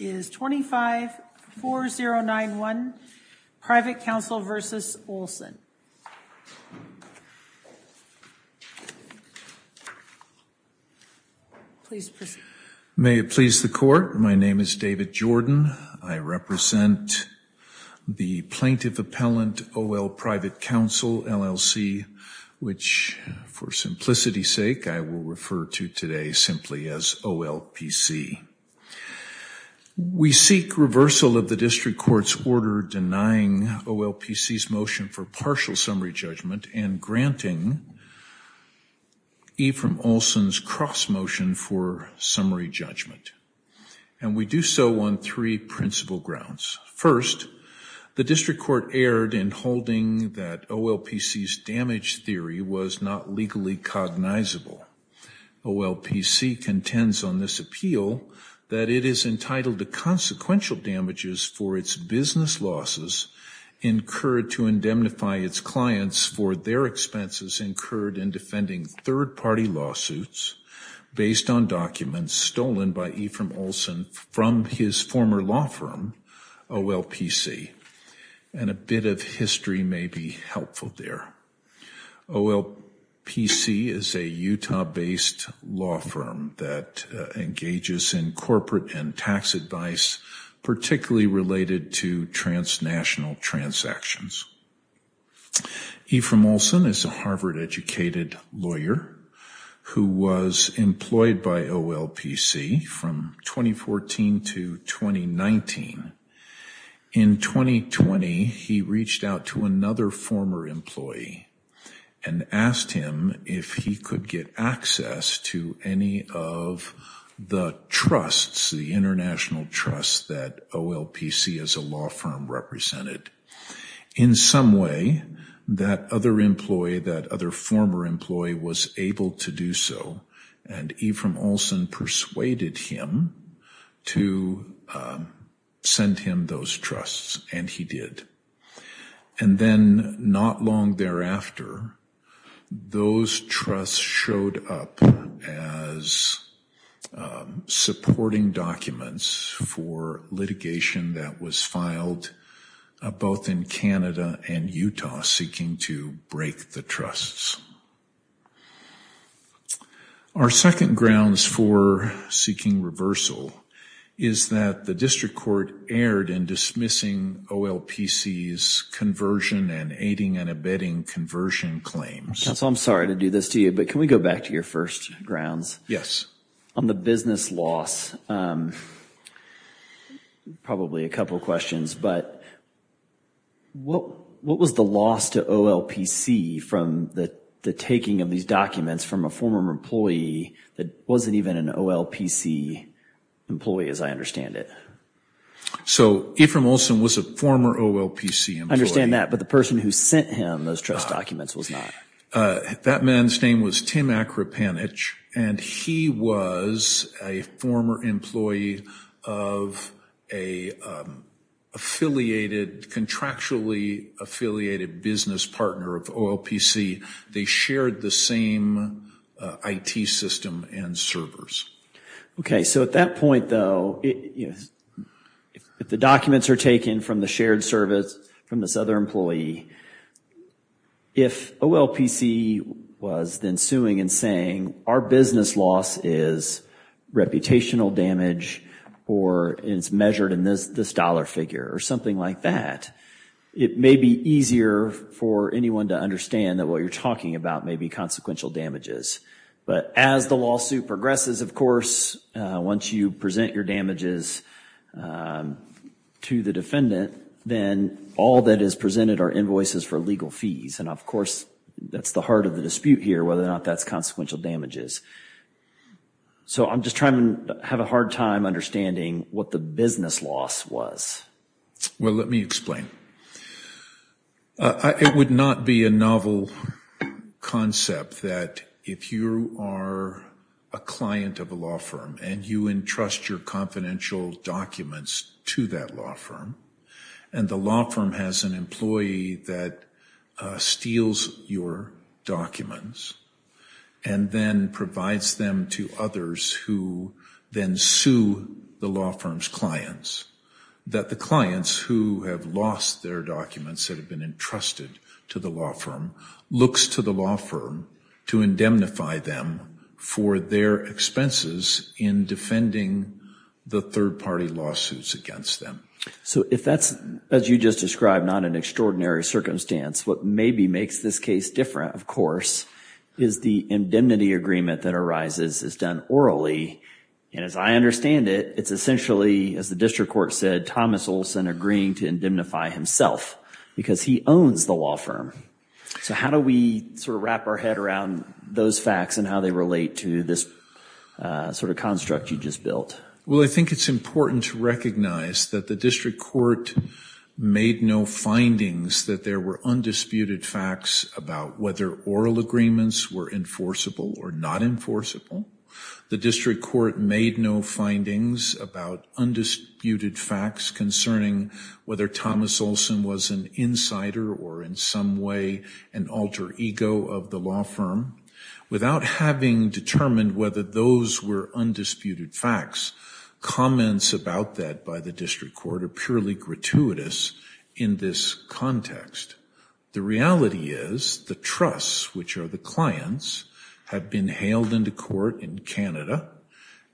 May it please the Court, my name is David Jordan. I represent the Plaintiff Appellant O.L. Private Counsel LLC, which for simplicity's sake I will refer to today simply as O.L.P.C. We seek reversal of the District Court's order denying O.L.P.C.'s motion for partial summary judgment and granting Ephraim Olson's cross motion for summary judgment. And we do so on principle grounds. First, the District Court erred in holding that O.L.P.C.'s damage theory was not legally cognizable. O.L.P.C. contends on this appeal that it is entitled to consequential damages for its business losses incurred to indemnify its clients for their expenses incurred in defending third party lawsuits based on documents stolen by Ephraim Olson from his former law firm O.L.P.C. And a bit of history may be helpful there. O.L.P.C. is a Utah based law firm that engages in corporate and tax advice particularly related to transnational transactions. Ephraim Olson is a Harvard educated lawyer who was employed by O.L.P.C. from 2014 to 2019. In 2020, he reached out to another former employee and asked him if he could get access to any of the trusts, the international trusts that O.L.P.C. as a law firm represented. In some way, that other employee, that other former employee was able to do so and Ephraim Olson persuaded him to send him those trusts and he did. And then not long thereafter, those trusts showed up as supporting documents for litigation that was filed both in Canada and Utah seeking to break the trusts. Our second grounds for seeking reversal is that the district court erred in dismissing O.L.P.C.'s conversion and aiding and abetting conversion claims. Counsel, I'm sorry to do this to you, but can we go back to your first grounds? Yes. On the business loss, probably a couple of questions, but what was the loss to O.L.P.C. from the taking of these documents from a former employee that wasn't even an O.L.P.C. employee as I understand it? So Ephraim Olson was a former O.L.P.C. I understand that, but the person who sent him those trust documents was not. That man's name was Tim Akrapanich and he was a former employee of a contractually affiliated business partner of O.L.P.C. They shared the same I.T. system and servers. Okay, so at that point though, if the documents are taken from the shared service from this other employee, if O.L.P.C. was then suing and saying, our business loss is reputational damage or it's measured in this dollar figure or something like that, it may be easier for anyone to understand that what you're talking about may be consequential damages. But as the lawsuit progresses, of course, once you present your damages to the defendant, then all that is presented are invoices for legal fees. And of course, that's the heart of the dispute here, whether or not that's consequential damages. So I'm just trying to have a hard time understanding what the business loss was. Well, let me explain. It would not be a novel concept that if you are a client of a law firm and you entrust your confidential documents to that law firm, and the law firm has an employee that steals your documents and then provides them to others who then sue the law firm's clients, that the clients who have lost their documents that have been entrusted to the law firm looks to the law firm to indemnify them for their expenses in defending the third party lawsuits against them. So if that's, as you just described, not an extraordinary circumstance, what maybe makes this case different, of course, is the indemnity agreement that arises is done orally. And as I understand it, it's essentially, as the district court said, Thomas Olson agreeing to indemnify himself because he owns the law firm. So how do we sort of wrap our head around those facts and how they relate to this sort of construct you just built? Well, I think it's important to recognize that the district court made no findings that there were undisputed facts about whether oral agreements were enforceable or not enforceable. The district court made no findings about undisputed facts concerning whether Thomas Olson was an insider or in some way an alter ego of the law firm without having determined whether those were undisputed facts. Comments about that by the district court are purely gratuitous in this context. The reality is the trusts, which are the clients, have been hailed into court in Canada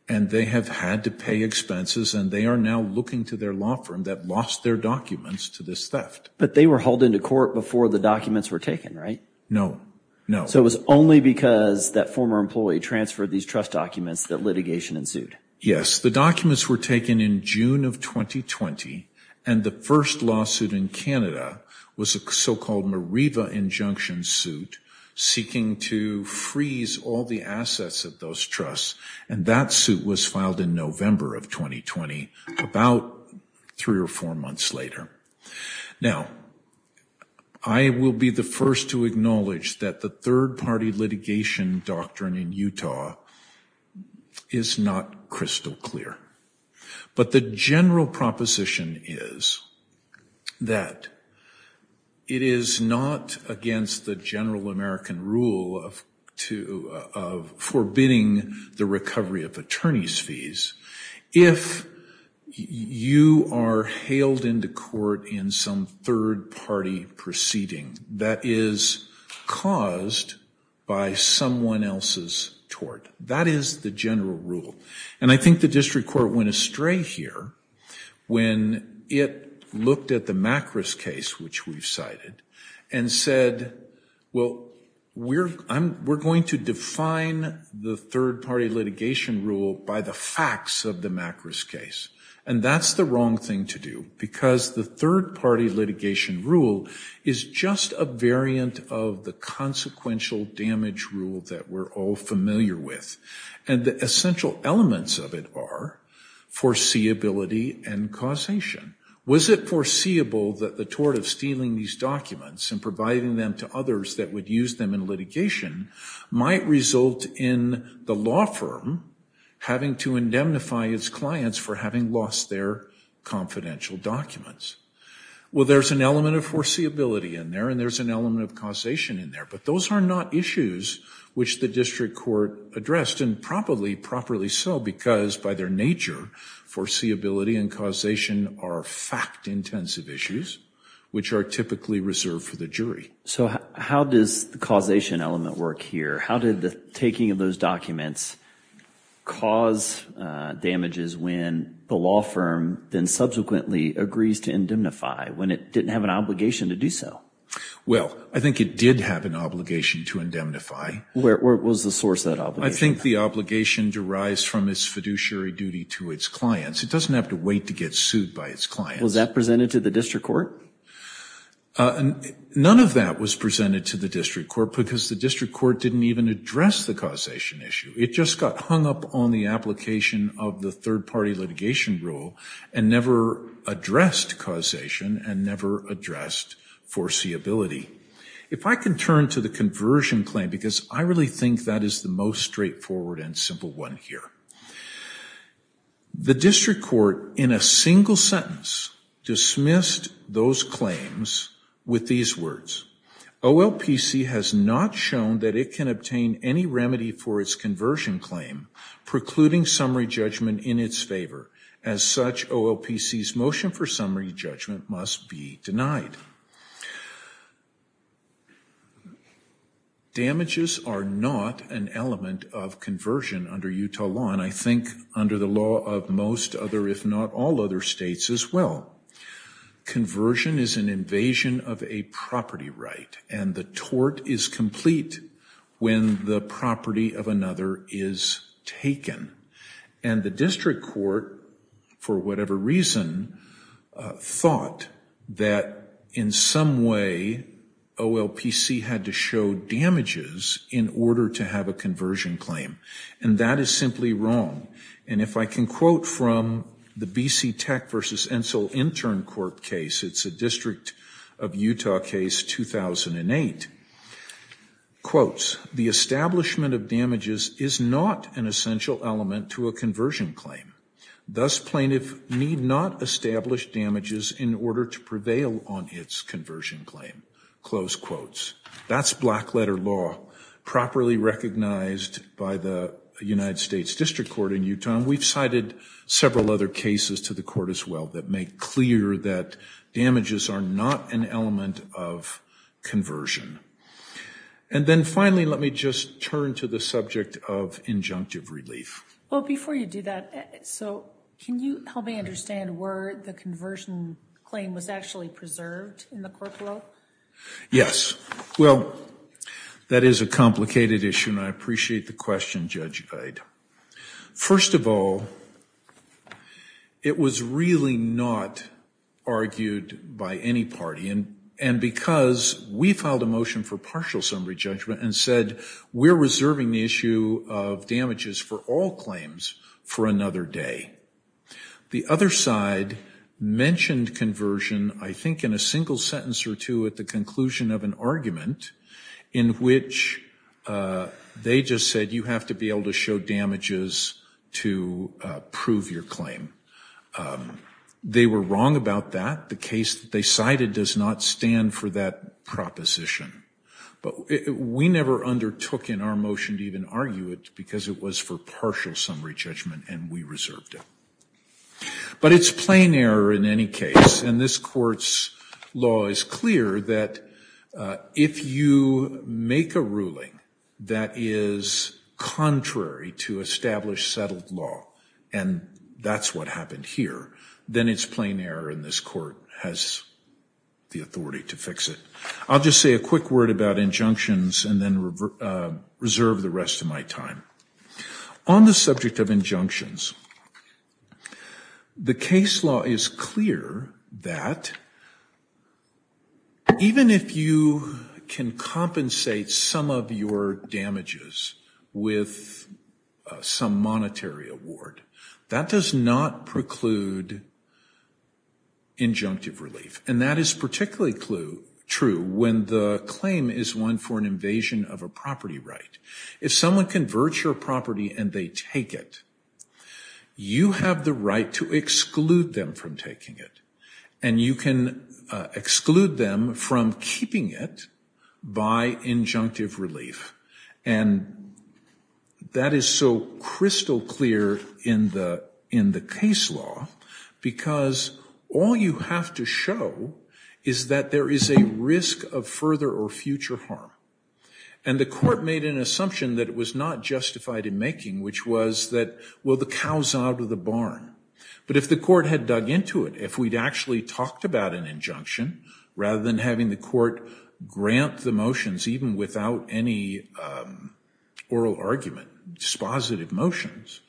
and they have had to pay expenses and they are now looking to their law firm that lost their documents to this theft. But they were hauled into court before the documents were taken, right? No, no. So it was only because that former employee transferred these trust documents that litigation ensued? Yes. The documents were taken in June of 2020 and the first lawsuit in Canada was a so-called Meriva injunction suit seeking to freeze all the assets of those trusts. And that suit was filed in November of 2020, about three or four months later. Now, I will be the first to acknowledge that the third-party litigation doctrine in Utah is not crystal clear. But the general proposition is that it is not against the general American rule of of forbidding the recovery of attorney's fees if you are hailed into court in some third-party proceeding that is caused by someone else's tort. That is the general rule. And I think the district court went astray here when it looked at the Macris case, which we've cited, and said, well, we're going to define the third-party litigation rule by the facts of the Macris case. And that's the wrong thing to do because the third-party litigation rule is just a variant of the consequential damage rule that we're all familiar with. And the essential elements of it are foreseeability and causation. Was it foreseeable that the tort of stealing these documents and providing them to others that would use them in litigation might result in the law firm having to indemnify its clients for having lost their confidential documents? Well, there's an element of foreseeability in there, and there's an element of causation in there. But those are not issues which the district court addressed, and probably properly so because, by their nature, foreseeability and causation are fact-intensive issues which are typically reserved for the jury. So how does the causation element work here? How did the taking of those documents cause damages when the law firm then subsequently agrees to indemnify when it didn't have an obligation to do so? Well, I think it did have an obligation to indemnify. Where was the source of that obligation? I think the obligation derives from its fiduciary duty to its clients. It doesn't have to wait to get sued by its clients. Was that presented to the district court? None of that was presented to the district court because the district court didn't even address the causation issue. It just got hung up on the application of the third-party litigation rule and never addressed causation and never addressed foreseeability. If I can turn to the conversion claim, because I really think that is the most straightforward and simple one here. The district court, in a single sentence, dismissed those claims with these words, OLPC has not shown that it can obtain any remedy for its conversion claim, precluding summary judgment in its favor. As such, OLPC's motion for summary judgment must be denied. Now, damages are not an element of conversion under Utah law, and I think under the law of most other, if not all other states as well. Conversion is an invasion of a property right, and the tort is complete when the property of another is taken. The district court, for whatever reason, thought that in some way, OLPC had to show damages in order to have a conversion claim, and that is simply wrong. If I can quote from the B.C. Tech v. Ensel Intern Court case, it's a district of Utah case, 2008. Quotes, the establishment of damages is not an essential element to a conversion claim. Thus, plaintiff need not establish damages in order to prevail on its conversion claim. Close quotes. That's black letter law, properly recognized by the United States District Court in Utah. We've cited several other cases to the court as well that make clear that damages are not an element of conversion. And then finally, let me just turn to the subject of injunctive relief. Well, before you do that, so can you help me understand where the conversion claim was actually preserved in the court world? Yes. Well, that is a complicated issue, and I appreciate the question, Judge Gide. First of all, it was really not argued by any party. And because we filed a motion for partial summary judgment and said we're reserving the issue of damages for all claims for another day. The other side mentioned conversion, I think in a single sentence or two at the conclusion of an argument in which they just said you have to be able to show damages to prove your claim. They were wrong about that. The case that they cited does not stand for that proposition. But we never undertook in our motion to even argue it because it was for partial summary judgment and we reserved it. But it's plain error in any case. And this court's law is clear that if you make a ruling that is contrary to established settled law, and that's what happened here, then it's plain error and this court has the authority to fix it. I'll just say a quick word about injunctions and then reserve the rest of my time. On the subject of injunctions, the case law is clear that even if you can compensate some of your damages with some monetary award, that does not preclude injunctive relief. And that is particularly true when the claim is one for an invasion of a property right. If someone converts your property and they take it, you have the right to exclude them from taking it. And you can exclude them from keeping it by injunctive relief. And that is so crystal clear in the case law because all you have to show is that there is a risk of further or future harm. And the court made an assumption that it was not justified in making, which was that, well, the cow's out of the barn. But if the court had dug into it, if we'd actually talked about an injunction, rather than having the court grant the motions even without any oral argument, dispositive motions,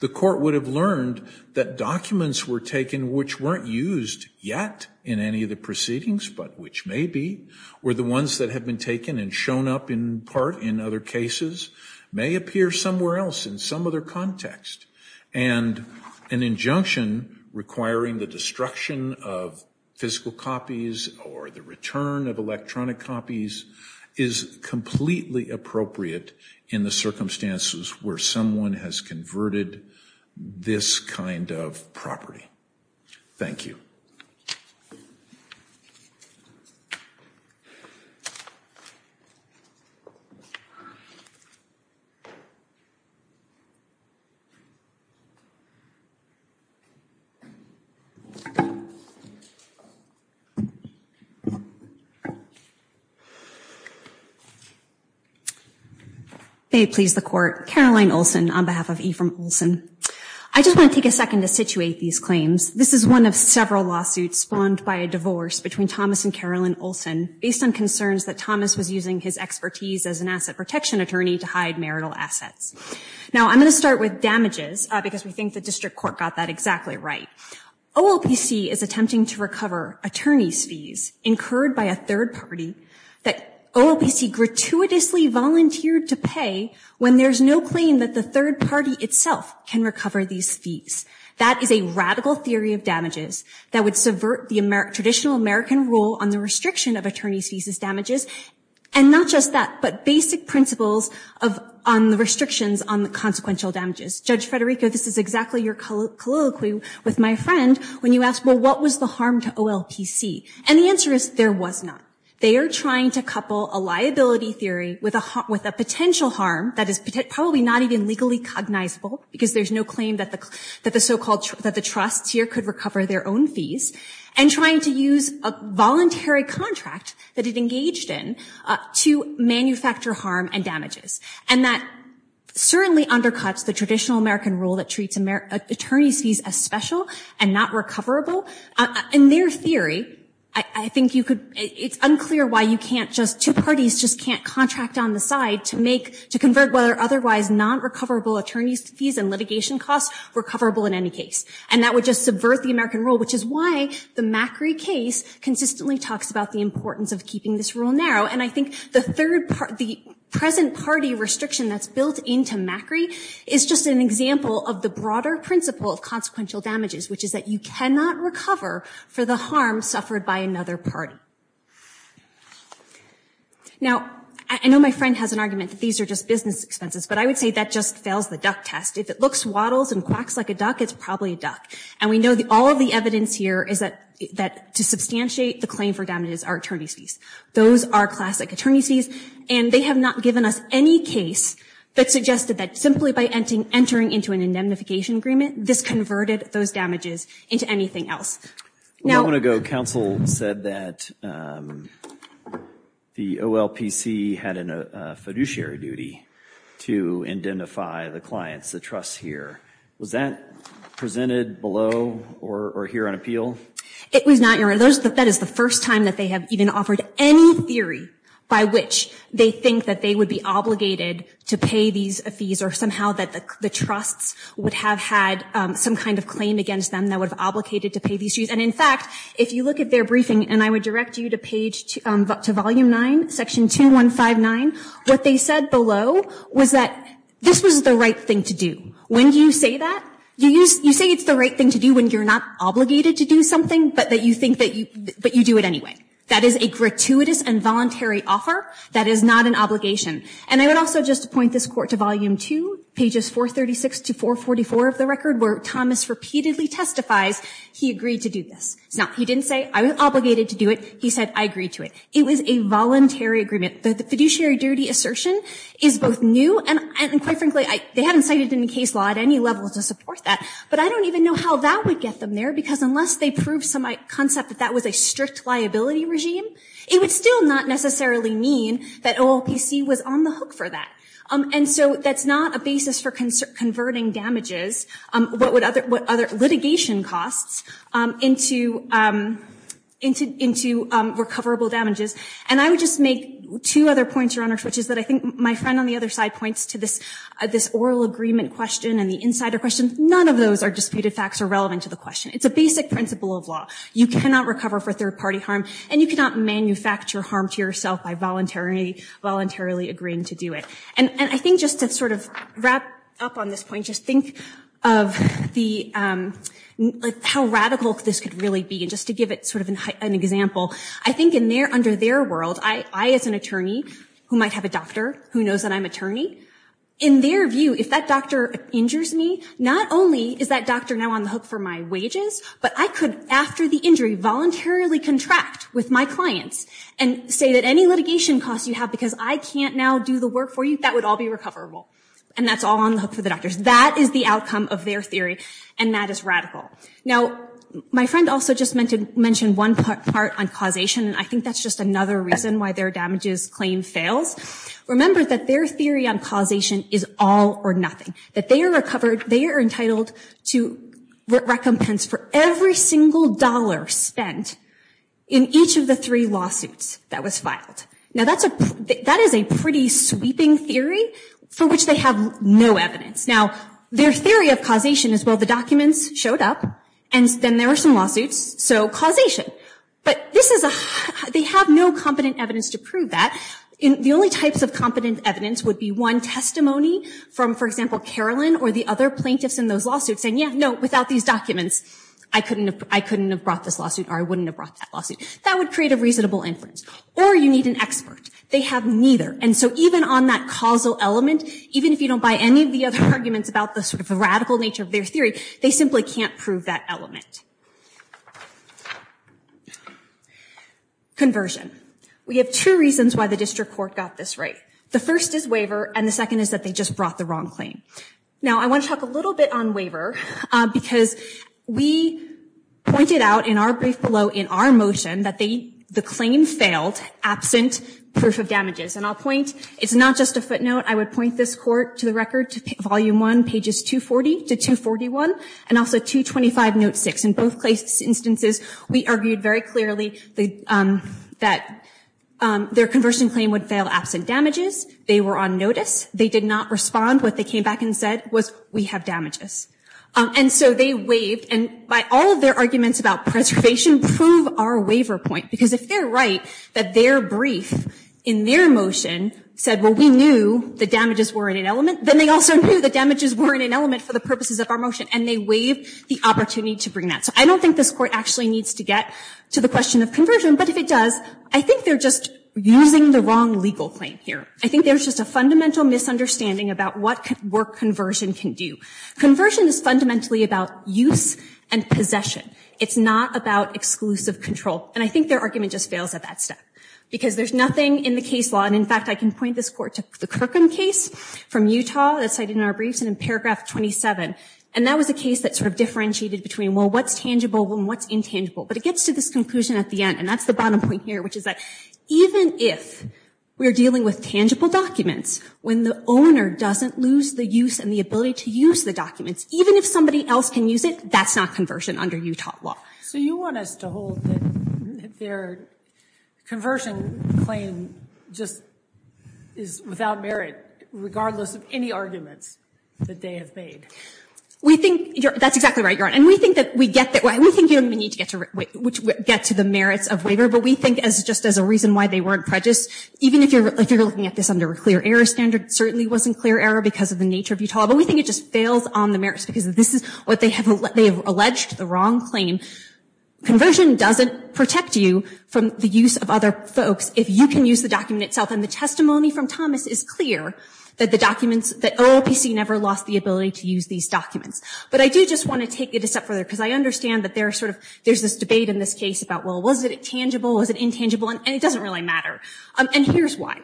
the court would have learned that documents were taken which weren't used yet in any of the proceedings, but which may be, or the ones that have been taken and shown up in part in other cases, may appear somewhere else in some other context. And an injunction requiring the destruction of physical copies or the return of electronic copies is completely appropriate in the circumstances where someone has converted this kind of property. Thank you. May it please the court. Caroline Olson on behalf of Ephraim Olson. I just want to take a second to situate these claims. This is one of several lawsuits spawned by a divorce between Thomas and Caroline Olson based on concerns that Thomas was using his expertise as an asset protection attorney to hide marital assets. Now, I'm going to start with damages because we think the district court got that exactly right. OLPC is attempting to recover attorney's fees incurred by a third party that OLPC gratuitously volunteered to pay when there's no claim that the third party itself can recover these fees. That is a radical theory of damages that would subvert the traditional American rule on the restriction of attorney's fees as damages. And not just that, but basic principles on the restrictions on the consequential damages. Judge Federico, this is exactly your colloquy with my friend when you asked, well, what was the harm to OLPC? And the answer is there was not. They are trying to couple a liability theory with a potential harm that is probably not even legally cognizable because there's no claim that the so-called, that the trust here could recover their own fees and trying to use a voluntary contract that it engaged in to manufacture harm and damages. And that certainly undercuts the traditional American rule that treats attorney's fees as special and not recoverable. In their theory, I think you could, it's unclear why you can't just, two parties just can't contract on the side to make, to convert whether otherwise non-recoverable attorney's fees and litigation costs were coverable in any case. And that would just subvert the American rule, which is why the Macri case consistently talks about the importance of keeping this rule narrow. And I think the third part, the present party restriction that's built into Macri is just an example of the broader principle of consequential damages, which is that you cannot recover for the harm suffered by another party. Now, I know my friend has an argument that these are just business expenses, but I would say that just fails the duck test. If it looks waddles and quacks like a duck, it's probably a duck. And we know that all of the evidence here is that to substantiate the claim for damages are attorney's fees. Those are classic attorney's fees. And they have not given us any case that suggested that simply by entering into an indemnification agreement, this converted those damages into anything else. A moment ago, counsel said that the OLPC had a fiduciary duty to indemnify the clients, the trusts here. Was that presented below or here on appeal? It was not, Your Honor. That is the first time that they have even offered any theory by which they think that they would be obligated to pay these fees or somehow that the trusts would have had some kind of claim against them that would have obligated to pay these fees. And in fact, if you look at their briefing, and I would direct you to page to volume 9, section 2159, what they said below was that this was the right thing to do. When you say that, you say it's the right thing to do when you're not obligated to do something, but that you think that you do it anyway. That is a gratuitous and voluntary offer. That is not an obligation. And I would also just point this court to volume 2, pages 436 to 444 of the record, where Thomas repeatedly testifies he agreed to do this. No, he didn't say I was obligated to do it. He said I agreed to it. It was a voluntary agreement. The fiduciary duty assertion is both new and quite frankly, they haven't cited it in case law at any level to support that, but I don't even know how that would get them there because unless they prove some concept that that was a strict liability regime, it would still not necessarily mean that OLPC was on the hook for that. And so that's not a basis for converting damages, what other litigation costs, into recoverable damages. And I would just make two other points, Your Honor, which is that I think my friend on the other side points to this oral agreement question and the insider question. None of those are disputed facts or relevant to the question. It's a basic principle of law. You cannot recover for third party harm and you cannot manufacture harm to yourself by voluntarily agreeing to do it. And I think just to sort of wrap up on this point, just think of how radical this could really be. Just to give it sort of an example, I think under their world, I as an attorney who might have a doctor who knows that I'm an attorney, in their view, if that doctor injures me, not only is that doctor now on the hook for my wages, but I could, after the injury, voluntarily contract with my clients and say that any litigation costs you have because I can't now do the work for you, that would all be recoverable. And that's all on the hook for the doctors. That is the outcome of their theory. And that is radical. Now, my friend also just meant to mention one part on causation. And I think that's just another reason why their damages claim fails. Remember that their theory on causation is all or nothing. That they are entitled to recompense for every single dollar spent in each of the three lawsuits that was filed. Now, that is a pretty sweeping theory for which they have no evidence. Now, their theory of causation is, well, the documents showed up, and then there were some lawsuits, so causation. But they have no competent evidence to prove that. The only types of competent evidence would be one testimony from, for example, Carolyn or the other plaintiffs in those lawsuits saying, yeah, no, without these documents, I couldn't have brought this lawsuit or I wouldn't have brought that lawsuit. That would create a reasonable inference. Or you need an expert. They have neither. And so even on that causal element, even if you don't buy any of the other arguments about the sort of radical nature of their theory, they simply can't prove that element. Conversion. We have two reasons why the district court got this right. The first is waiver, and the second is that they just brought the wrong claim. Now, I want to talk a little bit on waiver, because we pointed out in our brief below in our motion that the claim failed absent proof of damages. And I'll point, it's not just a footnote. I would point this court to the record, to volume one, pages 240 to 241, and also 225, note six, and point out that the claim failed. In both cases, instances, we argued very clearly that their conversion claim would fail absent damages. They were on notice. They did not respond. What they came back and said was, we have damages. And so they waived, and by all of their arguments about preservation, prove our waiver point. Because if they're right that their brief in their motion said, well, we knew the damages were in an element, then they also knew the damages were in an element for the purposes of our motion. And they waived the opportunity to bring that. So I don't think this court actually needs to get to the question of conversion. But if it does, I think they're just using the wrong legal claim here. I think there's just a fundamental misunderstanding about what work conversion can do. Conversion is fundamentally about use and possession. It's not about exclusive control. And I think their argument just fails at that step, because there's nothing in the case law. And in fact, I can point this court to the Kirkham case from Utah that's cited in our briefs and in paragraph 27. And that was a case that sort of differentiated between, well, what's tangible and what's intangible? But it gets to this conclusion at the end. And that's the bottom point here, which is that even if we're dealing with tangible documents, when the owner doesn't lose the use and the ability to use the documents, even if somebody else can use it, that's not conversion under Utah law. So you want us to hold that their conversion claim just is without merit, regardless of any arguments that they have made? We think that's exactly right, Your Honor. And we think you don't even need to get to the merits of waiver. But we think, just as a reason why they weren't prejudice, even if you're looking at this under a clear error standard, it certainly wasn't clear error because of the nature of Utah law. But we think it just fails on the merits, because this is what they have alleged, the wrong claim. Conversion doesn't protect you from the use of other folks if you can use the document itself. And the testimony from Thomas is clear that OOPC never lost the ability to use these documents. But I do just want to take it a step further, because I understand that there's this debate in this case about, well, was it tangible? Was it intangible? And it doesn't really matter. And here's why.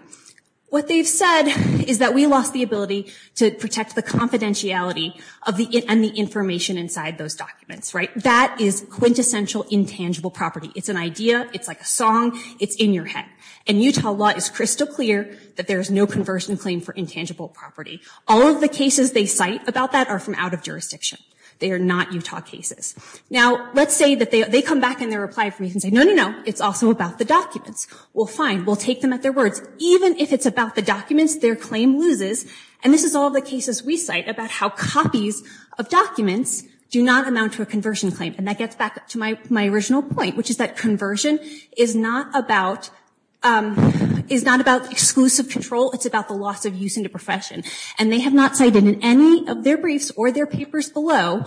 What they've said is that we lost the ability to protect the confidentiality and the information inside those documents. That is quintessential intangible property. It's an idea. It's like a song. It's in your head. And Utah law is crystal clear that there is no conversion claim for intangible property. All of the cases they cite about that are from out of jurisdiction. They are not Utah cases. Now, let's say that they come back in their reply and say, no, no, no, it's also about the documents. Well, fine. We'll take them at their words. Even if it's about the documents, their claim loses. And this is all the cases we cite about how copies of documents do not amount to a conversion claim. And that gets back to my original point, which is that conversion is not about exclusive control. It's about the loss of use in the profession. They have not cited in any of their briefs or their papers below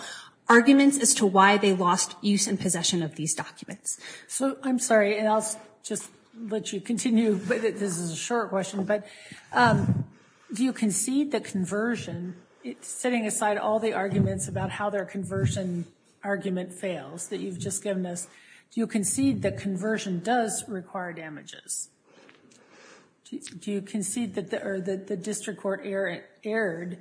arguments as to why they lost use and possession of these documents. So I'm sorry, and I'll just let you continue. This is a short question, but do you concede that conversion, setting aside all the arguments about how their conversion argument fails that you've just given us, do you concede that conversion does require damages? Do you concede that the district court erred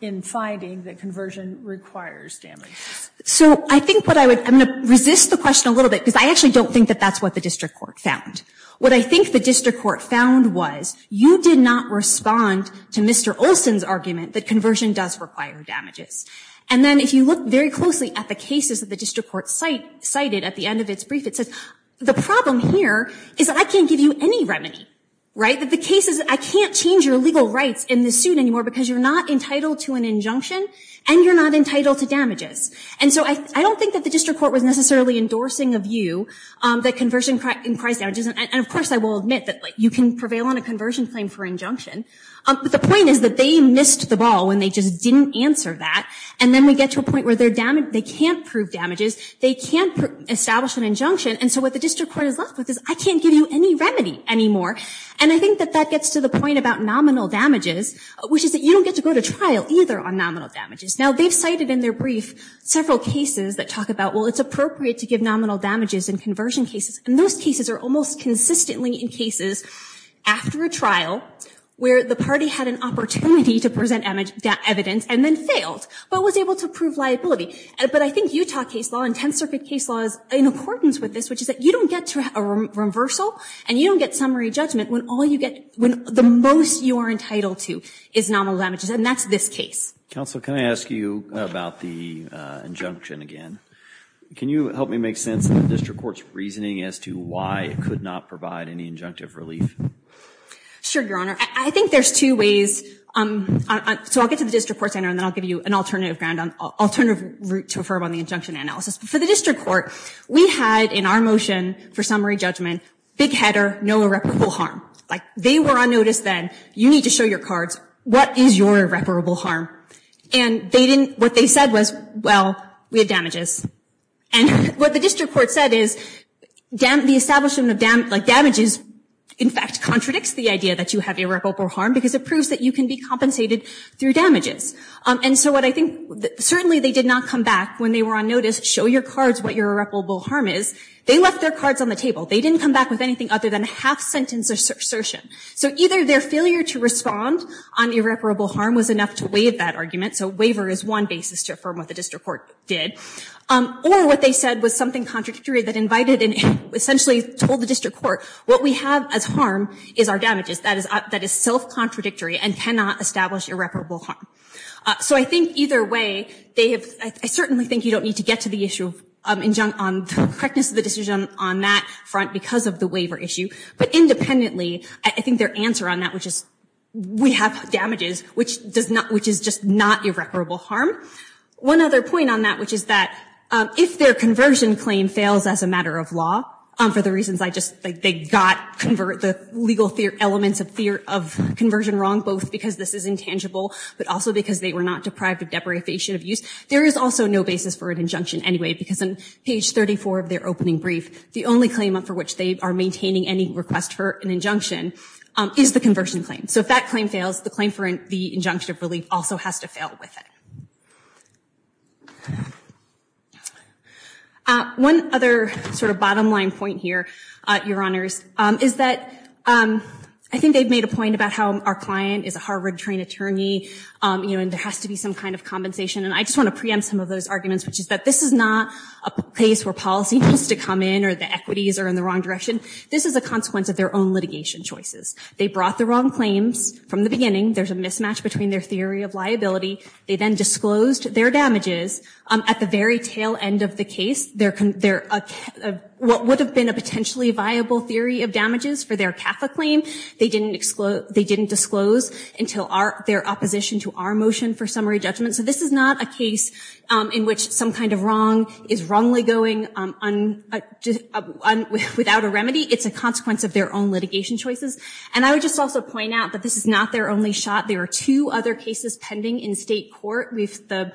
in finding that conversion requires damages? So I think what I would, I'm going to resist the question a little bit because I actually don't think that that's what the district court found. What I think the district court found was you did not respond to Mr. Olson's argument that conversion does require damages. And then if you look very closely at the cases that the district court cited at the end of its brief, it says the problem here is that I can't give you any remedy, right? That the case is I can't change your legal rights in this suit anymore because you're not entitled to an injunction and you're not entitled to damages. And so I don't think that the district court was necessarily endorsing of you that conversion requires damages. And of course, I will admit that you can prevail on a conversion claim for injunction. But the point is that they missed the ball when they just didn't answer that. And then we get to a point where they can't prove damages. They can't establish an injunction. And so what the district court is left with is I can't give you any remedy anymore. And I think that that gets to the point about nominal damages, which is that you don't get to go to trial either on nominal damages. Now, they've cited in their brief several cases that talk about, well, it's appropriate to give nominal damages in conversion cases. And those cases are almost consistently in cases after a trial where the party had an opportunity to present evidence and then failed, but was able to prove liability. But I think Utah case law and Tenth Circuit case law is in accordance with this, which is that you don't get a reversal and you don't get summary judgment when all you get, when the most you are entitled to is nominal damages. And that's this case. Counsel, can I ask you about the injunction again? Can you help me make sense of the district court's reasoning as to why it could not provide any injunctive relief? Sure, Your Honor. I think there's two ways. So I'll get to the district court's and then I'll give you an alternative ground alternative route to affirm on the injunction analysis. But for the district court, we had in our motion for summary judgment, big header, no irreparable harm. Like they were on notice then, you need to show your cards. What is your irreparable harm? And they didn't, what they said was, well, we have damages. And what the district court said is the establishment of damages, in fact, contradicts the idea that you have irreparable harm because it proves that you can be compensated through damages. And so what I think, certainly they did not come back when they were on notice, show your cards what your irreparable harm is. They left their cards on the table. They didn't come back with anything other than a half sentence assertion. So either their failure to respond on irreparable harm was enough to waive that argument. So waiver is one basis to affirm what the district court did. Or what they said was something contradictory that invited and essentially told the district court, what we have as harm is our damages. That is self-contradictory and cannot establish irreparable harm. So I think either way, they have, I certainly think you don't need to get to the issue on the correctness of the decision on that front because of the waiver issue. But independently, I think their answer on that, which is we have damages, which does not, which is just not irreparable harm. One other point on that, which is that if their conversion claim fails as a matter of law, for the reasons I just, they got the legal elements of conversion wrong, both because this is intangible, but also because they were not deprived of deprivation of use. There is also no basis for an injunction anyway, because on page 34 of their opening brief, the only claim for which they are maintaining any request for an injunction is the conversion claim. So if that claim fails, the claim for the injunction of relief also has to fail with it. One other sort of bottom line point here, Your Honors, is that I think they've made a point about how our client is a Harvard trained attorney, and there has to be some kind of compensation. And I just want to preempt some of those arguments, which is that this is not a place where policy needs to come in or the equities are in the wrong direction. This is a consequence of their own litigation choices. They brought the wrong claims from the beginning. There's a mismatch between their theory of liability. They then disclosed their damages. At the very tail end of the case, what would have been a potentially viable theory of damages for their CAFA claim, they didn't disclose until their opposition to our motion for summary judgment. So this is not a case in which some kind of wrong is wrongly going without a remedy. It's a consequence of their own litigation choices. And I would just also point out that this is not their only shot. There are two other cases pending in state court. We've the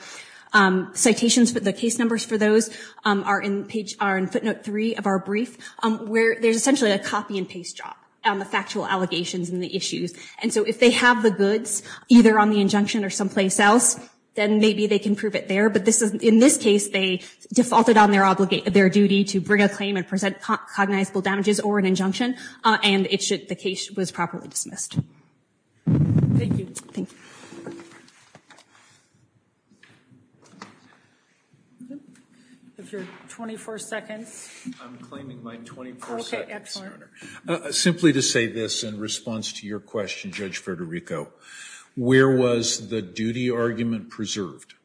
citations for the case numbers for those are in footnote three of our brief, where there's essentially a copy and paste job on the factual allegations and the issues. And so if they have the goods, either on the injunction or someplace else, then maybe they can prove it there. But in this case, they defaulted on their duty to bring a claim and present cognizable damages or an injunction. And the case was properly dismissed. Thank you. If you're 24 seconds. I'm claiming my 24 seconds, Your Honor. Simply to say this in response to your question, Judge Federico, where was the duty argument preserved?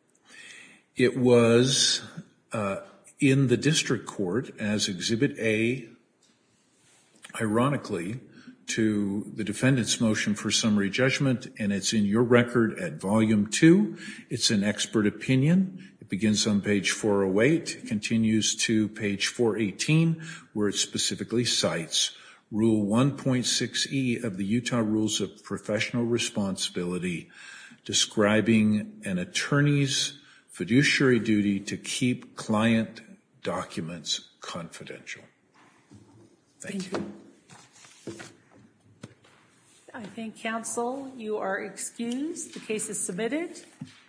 It was in the district court as Exhibit A, ironically, to the defendant's motion for summary judgment. And it's in your record at volume two. It's an expert opinion. It begins on page 408, continues to page 418, where it specifically cites rule 1.6e of the Utah Rules of Professional Responsibility, describing an attorney's fiduciary duty to keep client documents confidential. Thank you. I think, counsel, you are excused. The case is submitted.